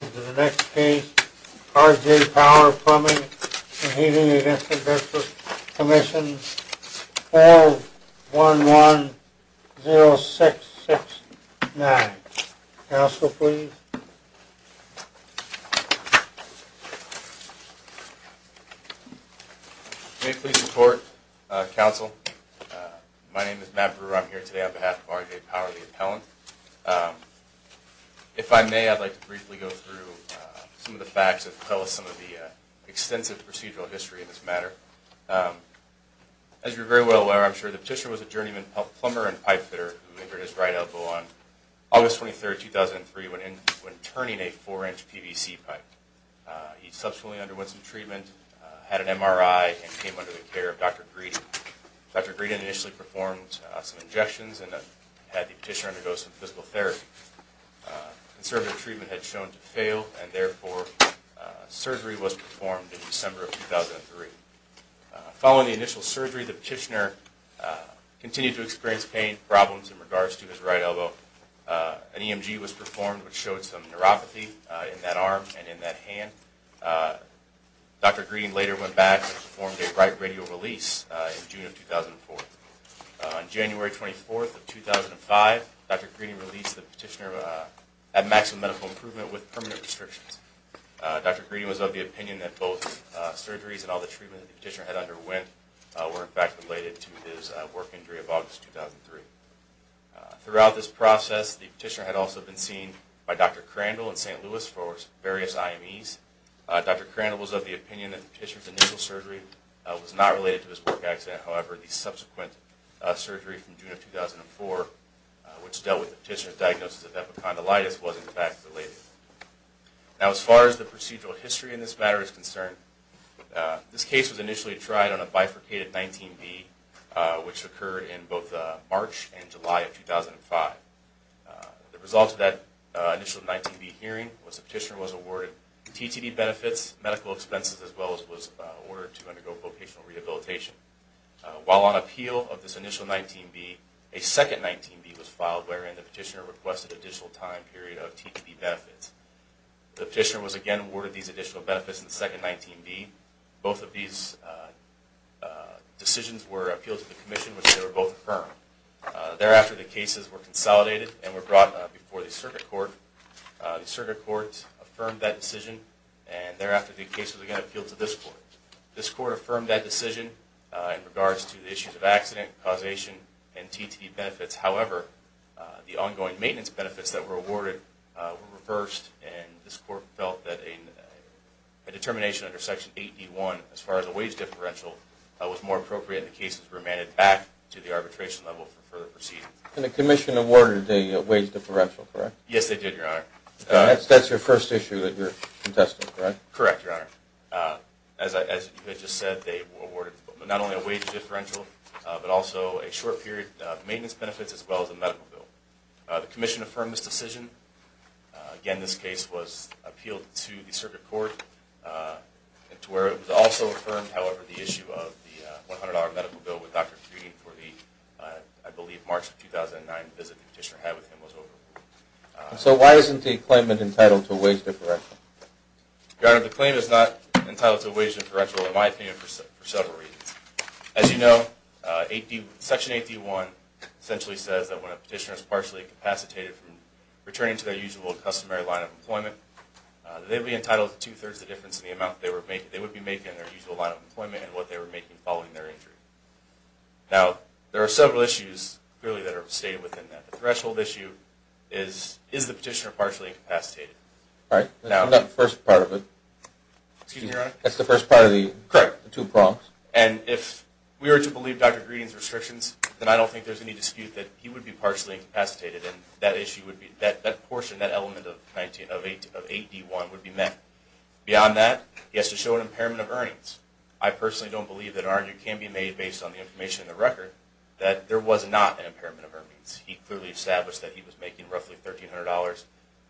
This is the next case, R.J. Power Plumbing & Heating v. Workers' Comm'n, 411-0669. Counsel, please. May it please the Court, Counsel. My name is Matt Brewer. I'm here today on behalf of R.J. Power, the appellant. If I may, I'd like to briefly go through some of the facts that tell us some of the extensive procedural history in this matter. As you're very well aware, I'm sure, the petitioner was a journeyman plumber and pipe fitter who injured his right elbow on August 23, 2003 when turning a 4-inch PVC pipe. He subsequently underwent some treatment, had an MRI, and came under the care of Dr. Greeden. Dr. Greeden initially performed some injections and had the petitioner undergo some physical therapy. Conservative treatment had shown to fail, and therefore surgery was performed in December of 2003. Following the initial surgery, the petitioner continued to experience pain problems in regards to his right elbow. An EMG was performed, which showed some neuropathy in that arm and in that hand. Dr. Greeden later went back and performed a right radial release in June of 2004. On January 24, 2005, Dr. Greeden released the petitioner at maximum medical improvement with permanent restrictions. Dr. Greeden was of the opinion that both surgeries and all the treatment that the petitioner had underwent were in fact related to his work injury of August 2003. Throughout this process, the petitioner had also been seen by Dr. Crandall in St. Louis for various IMEs. Dr. Crandall was of the opinion that the petitioner's initial surgery was not related to his work accident. However, the subsequent surgery from June of 2004, which dealt with the petitioner's diagnosis of epicondylitis, was in fact related. Now, as far as the procedural history in this matter is concerned, this case was initially tried on a bifurcated 19B, which occurred in both March and July of 2005. The result of that initial 19B hearing was the petitioner was awarded TTD benefits, medical expenses, as well as was ordered to undergo vocational rehabilitation. While on appeal of this initial 19B, a second 19B was filed, wherein the petitioner requested an additional time period of TTD benefits. The petitioner was again awarded these additional benefits in the second 19B. Both of these decisions were appealed to the Commission, which they were both affirmed. Thereafter, the cases were consolidated and were brought before the Circuit Court. The Circuit Court affirmed that decision, and thereafter the cases again appealed to this Court. This Court affirmed that decision in regards to the issues of accident, causation, and TTD benefits. However, the ongoing maintenance benefits that were awarded were reversed, and this Court felt that a determination under Section 8D1 as far as a wage differential was more appropriate, and the cases were remanded back to the arbitration level for further proceedings. And the Commission awarded a wage differential, correct? Yes, they did, Your Honor. That's your first issue that you're contesting, correct? Correct, Your Honor. As you had just said, they awarded not only a wage differential, but also a short period of maintenance benefits as well as a medical bill. The Commission affirmed this decision. Again, this case was appealed to the Circuit Court, to where it was also affirmed, however, the issue of the $100 medical bill with Dr. Frieden for the, I believe, March of 2009 visit the petitioner had with him was overruled. So why isn't the claimant entitled to a wage differential? Your Honor, the claim is not entitled to a wage differential in my opinion for several reasons. As you know, Section 8D1 essentially says that when a petitioner is partially incapacitated from returning to their usual customary line of employment, they would be entitled to two-thirds the difference in the amount they would be making in their usual line of employment and what they were making following their injury. Now, there are several issues clearly that are stated within that. The threshold issue is, is the petitioner partially incapacitated? Right, that's the first part of it. Excuse me, Your Honor? That's the first part of the two prompts. And if we were to believe Dr. Frieden's restrictions, then I don't think there's any dispute that he would be partially incapacitated and that issue would be, that portion, that element of 8D1 would be met. Beyond that, he has to show an impairment of earnings. I personally don't believe that an argument can be made based on the information in the record that there was not an impairment of earnings. He clearly established that he was making roughly $1,300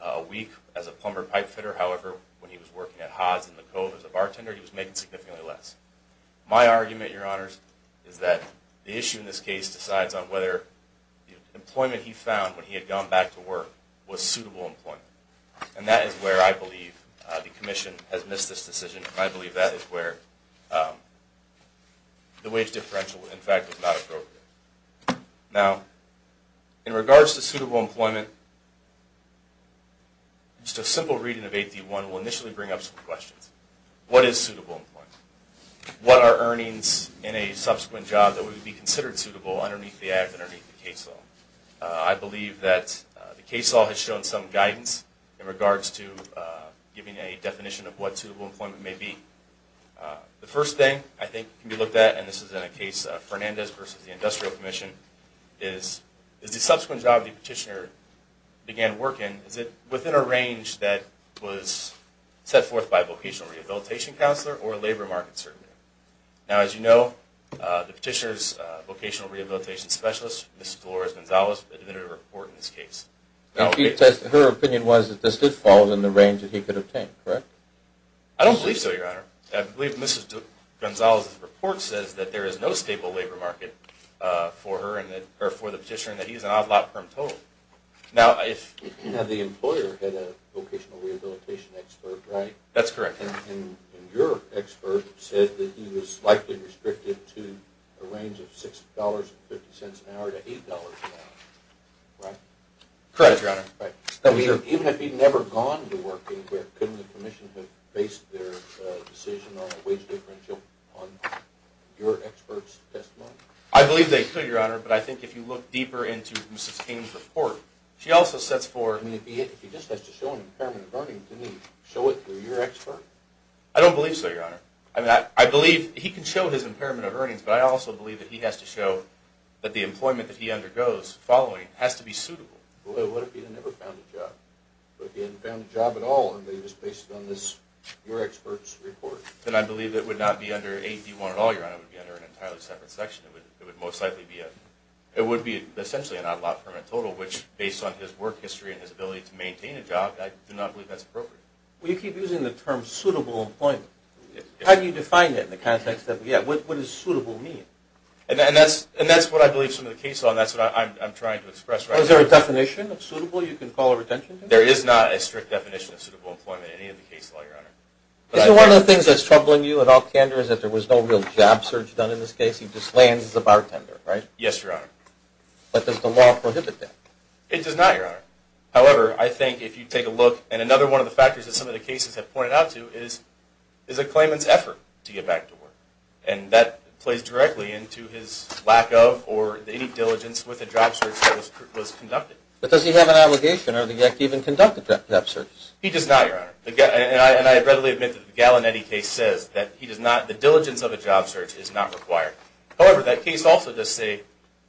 a week as a plumber pipe fitter. However, when he was working at Haas in the Cove as a bartender, he was making significantly less. My argument, Your Honors, is that the issue in this case decides on whether the employment he found when he had gone back to work was suitable employment. And that is where I believe the Commission has missed this decision, and I believe that is where the wage differential, in fact, was not appropriate. Now, in regards to suitable employment, just a simple reading of 8D1 will initially bring up some questions. What is suitable employment? What are earnings in a subsequent job that would be considered suitable underneath the act, underneath the case law? I believe that the case law has shown some guidance in regards to giving a definition of what suitable employment may be. The first thing I think can be looked at, and this is in a case of Fernandez versus the Industrial Commission, is the subsequent job the petitioner began work in, is it within a range that was set forth by a vocational rehabilitation counselor or a labor market certainty? Now, as you know, the petitioner's vocational rehabilitation specialist, Mrs. Dolores Gonzalez, admitted to the court in this case. Now, her opinion was that this did fall within the range that he could obtain, correct? I don't believe so, Your Honor. I believe Mrs. Gonzalez's report says that there is no stable labor market for her, or for the petitioner, and that he is an odd lot per total. Now, the employer had a vocational rehabilitation expert, right? That's correct. And your expert said that he was likely restricted to a range of $6.50 an hour to $8 an hour, right? Correct, Your Honor. Even if he'd never gone to work anywhere, couldn't the commission have based their decision on a wage differential on your expert's testimony? I believe they could, Your Honor, but I think if you look deeper into Mrs. King's report, she also sets forth I mean, if he just has to show an impairment of earnings, didn't he show it through your expert? I don't believe so, Your Honor. I believe he can show his impairment of earnings, but I also believe that he has to show that the employment that he undergoes following has to be suitable. Well, what if he had never found a job? What if he hadn't found a job at all, and they just based it on your expert's report? Then I believe it would not be under 8D1 at all, Your Honor. It would be under an entirely separate section. It would most likely be a – it would be essentially an odd lot per total, which, based on his work history and his ability to maintain a job, I do not believe that's appropriate. Well, you keep using the term suitable employment. How do you define it in the context that we have? What does suitable mean? And that's what I believe some of the cases are, and that's what I'm trying to express right now. Is there a definition of suitable you can call a retention to? There is not a strict definition of suitable employment in any of the cases, Your Honor. Isn't one of the things that's troubling you at all, Kander, is that there was no real job search done in this case? He just lands as a bartender, right? Yes, Your Honor. But does the law prohibit that? It does not, Your Honor. However, I think if you take a look, and another one of the factors that some of the cases have pointed out to is a claimant's effort to get back to work. And that plays directly into his lack of or any diligence with a job search that was conducted. But does he have an obligation to even conduct a job search? He does not, Your Honor. And I readily admit that the Gallinetti case says that the diligence of a job search is not required. However, that case also does say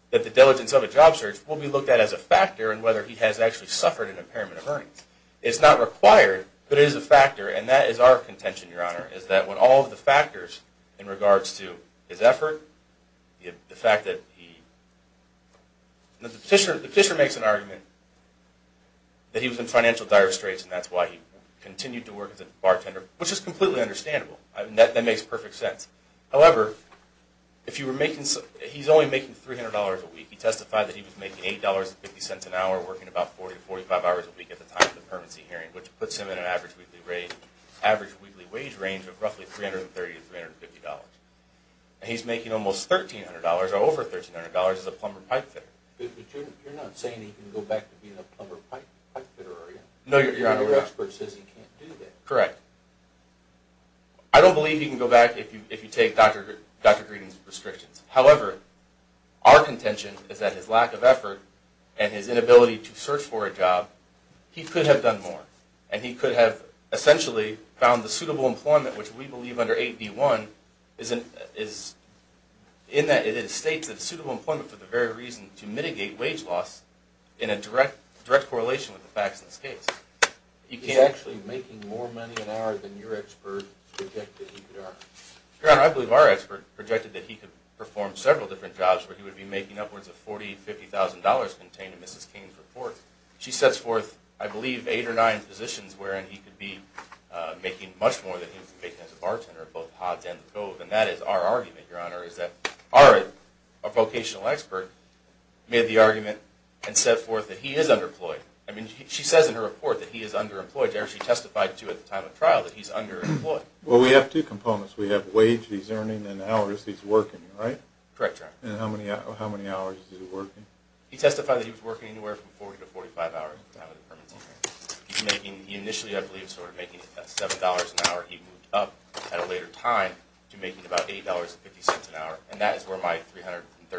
that the diligence of a job search will be looked at as a factor in whether he has actually suffered an impairment of earnings. It's not required, but it is a factor, and that is our contention, Your Honor, is that with all of the factors in regards to his effort, the fact that he... The petitioner makes an argument that he was in financial dire straits, and that's why he continued to work as a bartender, which is completely understandable. That makes perfect sense. However, if you were making... he's only making $300 a week. He testified that he was making $8.50 an hour, working about 40 to 45 hours a week at the time of the permanency hearing, which puts him in an average weekly wage range of roughly $330 to $350. And he's making almost $1,300 or over $1,300 as a plumber pipe fitter. But you're not saying he can go back to being a plumber pipe fitter, are you? No, Your Honor. Your expert says he can't do that. Correct. I don't believe he can go back if you take Dr. Greeden's restrictions. However, our contention is that his lack of effort and his inability to search for a job, he could have done more. And he could have essentially found the suitable employment, which we believe under 8B1, is in that it states that suitable employment for the very reason to mitigate wage loss in a direct correlation with the facts in this case. He's actually making more money an hour than your expert projected he could earn. Your Honor, I believe our expert projected that he could perform several different jobs where he would be making upwards of $40,000 to $50,000 contained in Mrs. Kane's report. She sets forth, I believe, eight or nine positions wherein he could be making much more than he could make as a bartender at both Hobbs and the Cove. And that is our argument, Your Honor, is that our vocational expert made the argument and set forth that he is underemployed. I mean, she says in her report that he is underemployed. She testified, too, at the time of trial that he's underemployed. Well, we have two components. We have wage that he's earning and hours that he's working, right? Correct, Your Honor. And how many hours is he working? He testified that he was working anywhere from 40 to 45 hours out of the permanent tenure. He initially, I believe, started making $7 an hour. He moved up at a later time to making about $80.50 an hour. And that is where my $330 to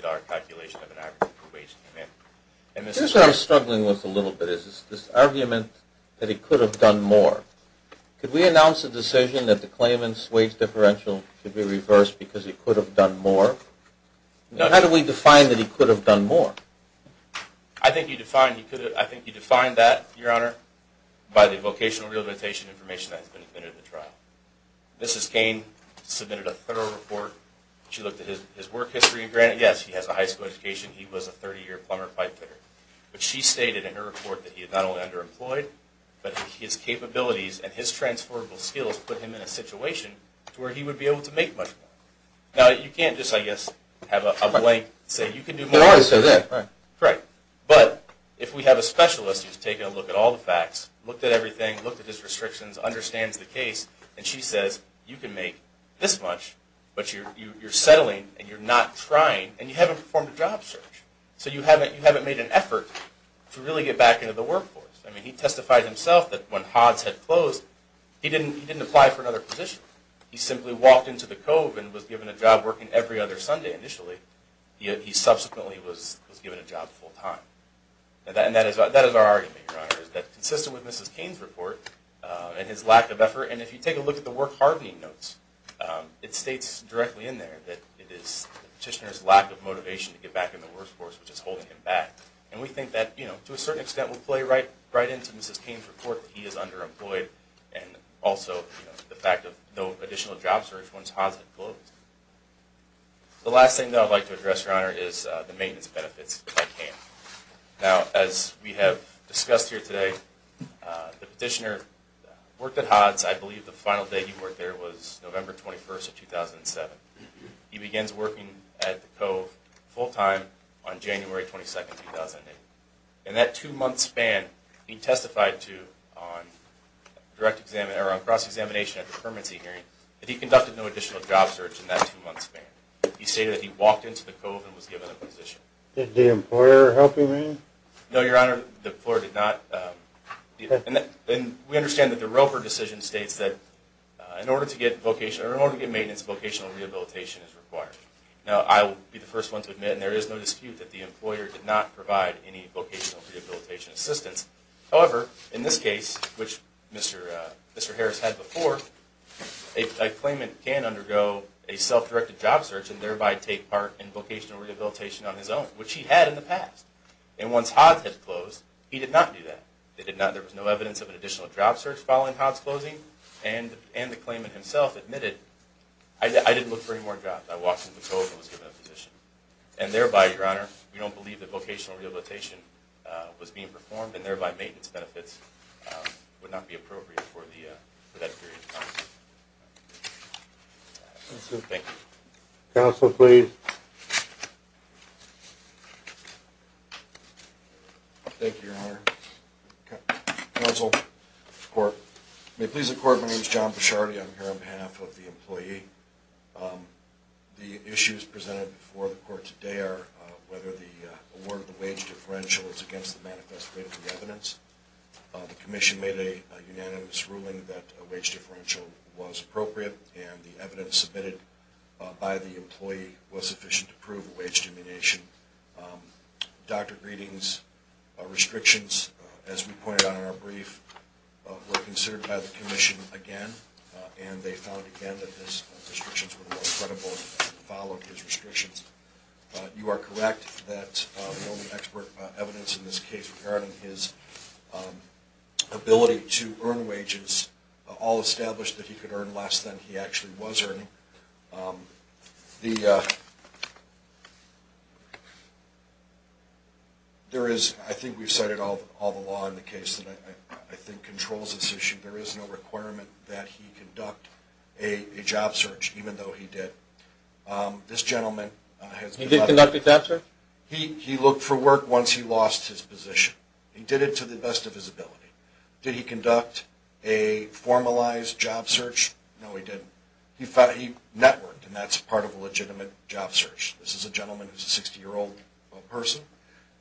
$350 calculation of an average wage came in. Here's what I'm struggling with a little bit is this argument that he could have done more. Could we announce a decision that the claimant's wage differential could be reversed because he could have done more? How do we define that he could have done more? I think you define that, Your Honor, by the vocational rehabilitation information that has been submitted at the trial. Mrs. Cain submitted a thorough report. She looked at his work history. And granted, yes, he has a high school education. He was a 30-year plumber pipe cleaner. But she stated in her report that he had not only underemployed, but his capabilities and his transferable skills put him in a situation to where he would be able to make much more. Now, you can't just, I guess, have a blank, say, you can do more. Right. But if we have a specialist who's taken a look at all the facts, looked at everything, looked at his restrictions, understands the case, and she says, you can make this much, but you're settling and you're not trying, and you haven't performed a job search. So you haven't made an effort to really get back into the workforce. I mean, he testified himself that when HODs had closed, he didn't apply for another position. He simply walked into the cove and was given a job working every other Sunday initially. He subsequently was given a job full-time. And that is our argument, Your Honor, is that consistent with Mrs. Cain's report and his lack of effort. And if you take a look at the work-hardening notes, it states directly in there that it is the petitioner's lack of motivation to get back in the workforce, which is holding him back. And we think that, you know, to a certain extent, we play right into Mrs. Cain's report that he is underemployed and also the fact of no additional job search once HODs had closed. The last thing, though, I'd like to address, Your Honor, is the maintenance benefits at Cain. Now, as we have discussed here today, the petitioner worked at HODs. I believe the final day he worked there was November 21st of 2007. He begins working at the cove full-time on January 22nd, 2008. In that two-month span, he testified to on cross-examination at the permanency hearing that he conducted no additional job search in that two-month span. He stated that he walked into the cove and was given a position. Did the employer help him in? No, Your Honor, the employer did not. And we understand that the Roper decision states that in order to get maintenance, vocational rehabilitation is required. Now, I will be the first one to admit, and there is no dispute, that the employer did not provide any vocational rehabilitation assistance. However, in this case, which Mr. Harris had before, a claimant can undergo a self-directed job search and thereby take part in vocational rehabilitation on his own, which he had in the past. And once HODS had closed, he did not do that. There was no evidence of an additional job search following HODS closing. And the claimant himself admitted, I didn't look for any more jobs. I walked into the cove and was given a position. And thereby, Your Honor, we don't believe that vocational rehabilitation was being performed and thereby maintenance benefits would not be appropriate for that period of time. Thank you. Counsel, please. Thank you, Your Honor. Counsel to the Court. May it please the Court, my name is John Bishardi. I'm here on behalf of the employee. The issues presented before the Court today are whether the award of the wage differential is against the manifest way of the evidence. The Commission made a unanimous ruling that a wage differential was appropriate and the evidence submitted by the employee was sufficient to prove a wage diminution. Dr. Greening's restrictions, as we pointed out in our brief, were considered by the Commission again and they found again that his restrictions were more credible and followed his restrictions. You are correct that the only expert evidence in this case regarding his ability to earn wages all established that he could earn less than he actually was earning. There is, I think we've cited all the law in the case that I think controls this issue, there is no requirement that he conduct a job search, even though he did. This gentleman... He did conduct a job search? He looked for work once he lost his position. He did it to the best of his ability. Did he conduct a formalized job search? No, he didn't. He networked, and that's part of a legitimate job search. This is a gentleman who is a 60-year-old person.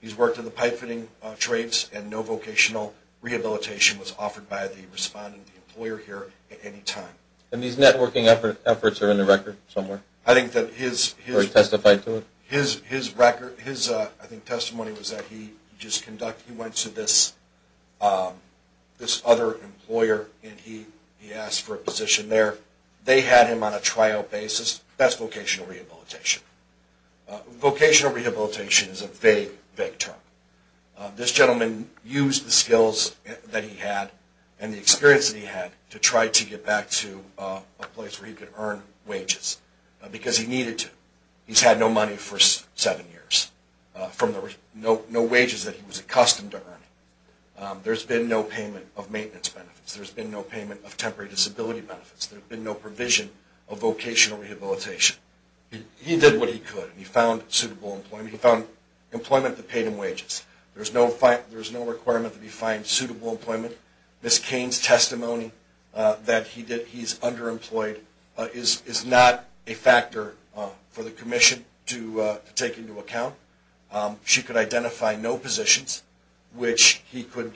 He's worked in the pipe fitting trades and no vocational rehabilitation was offered by the respondent, the employer here, at any time. And these networking efforts are in the record somewhere? I think that his... Were he testified to it? His record, his testimony was that he just conducted, he went to this other employer and he asked for a position there. They had him on a trial basis. That's vocational rehabilitation. Vocational rehabilitation is a vague, vague term. This gentleman used the skills that he had and the experience that he had to try to get back to a place where he could earn wages because he needed to. He's had no money for seven years, no wages that he was accustomed to earning. There's been no payment of maintenance benefits. There's been no payment of temporary disability benefits. There's been no provision of vocational rehabilitation. He did what he could. He found suitable employment. He found employment that paid him wages. There's no requirement that he find suitable employment. Ms. Cain's testimony that he's underemployed is not a factor for the commission to take into account. She could identify no positions which he could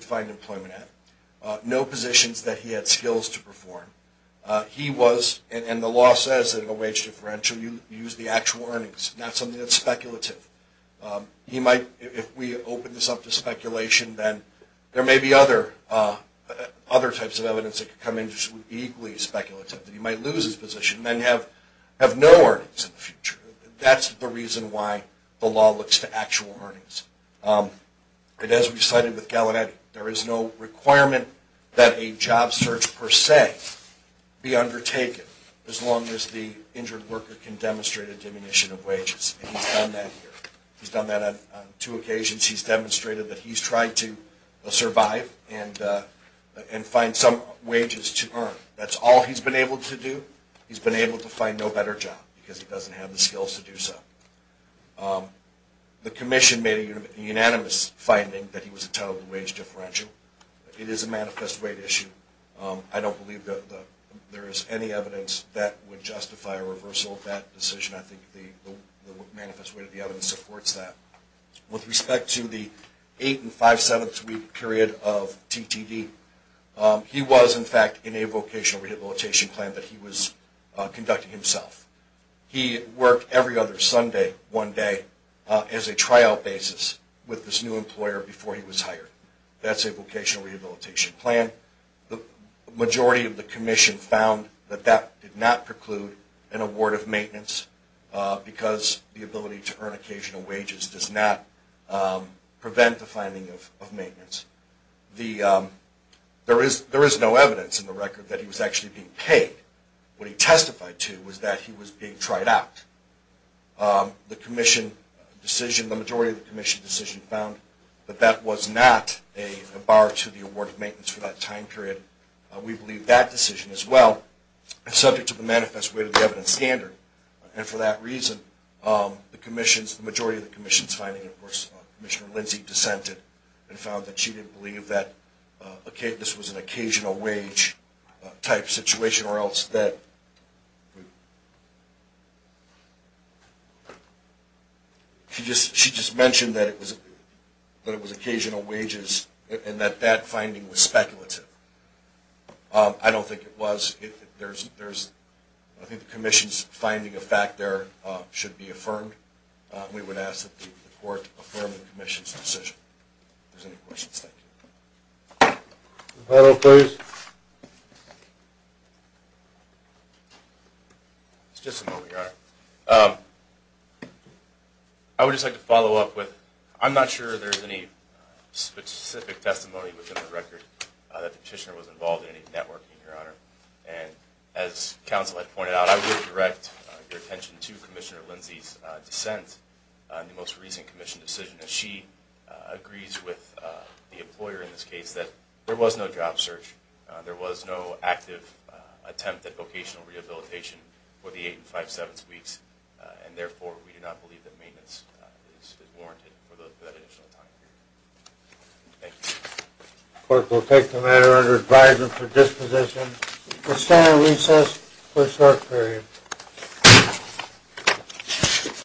find employment at, no positions that he had skills to perform. He was, and the law says that in a wage differential you use the actual earnings, not something that's speculative. He might, if we open this up to speculation, then there may be other types of evidence that could come in that would be equally speculative. He might lose his position and then have no earnings in the future. That's the reason why the law looks to actual earnings. As we've cited with Gallaudet, there is no requirement that a job search per se be undertaken, as long as the injured worker can demonstrate a diminution of wages, and he's done that here. He's done that on two occasions. He's demonstrated that he's tried to survive and find some wages to earn. That's all he's been able to do. He's been able to find no better job because he doesn't have the skills to do so. The commission made a unanimous finding that he was entitled to a wage differential. It is a manifest rate issue. I don't believe there is any evidence that would justify a reversal of that decision. I think the manifest rate of the evidence supports that. With respect to the eight- and five-seventh-week period of TTD, he was, in fact, in a vocational rehabilitation plan that he was conducting himself. He worked every other Sunday, one day, as a tryout basis with this new employer before he was hired. That's a vocational rehabilitation plan. The majority of the commission found that that did not preclude an award of maintenance because the ability to earn occasional wages does not prevent the finding of maintenance. There is no evidence in the record that he was actually being paid. What he testified to was that he was being tried out. The majority of the commission's decision found that that was not a bar to the award of maintenance for that time period. We believe that decision, as well, is subject to the manifest rate of the evidence standard. And for that reason, the majority of the commission's finding, of course, Commissioner Lindsay dissented and found that she didn't believe that this was an occasional wage type situation or else that she just mentioned that it was occasional wages and that that finding was speculative. I don't think it was. I think the commission's finding of fact there should be affirmed. We would ask that the court affirm the commission's decision. If there's any questions, thank you. The panel, please. Just a moment, Your Honor. I would just like to follow up with, I'm not sure there's any specific testimony within the record that the petitioner was involved in any networking, Your Honor. And as counsel had pointed out, I would direct your attention to Commissioner Lindsay's dissent. The most recent commission decision is she agrees with the employer in this case that there was no job search. There was no active attempt at vocational rehabilitation for the eight and five-sevenths weeks. And therefore, we do not believe that maintenance is warranted for that additional time period. Thank you. The court will take the matter under advisement for disposition to stand on recess for a short period.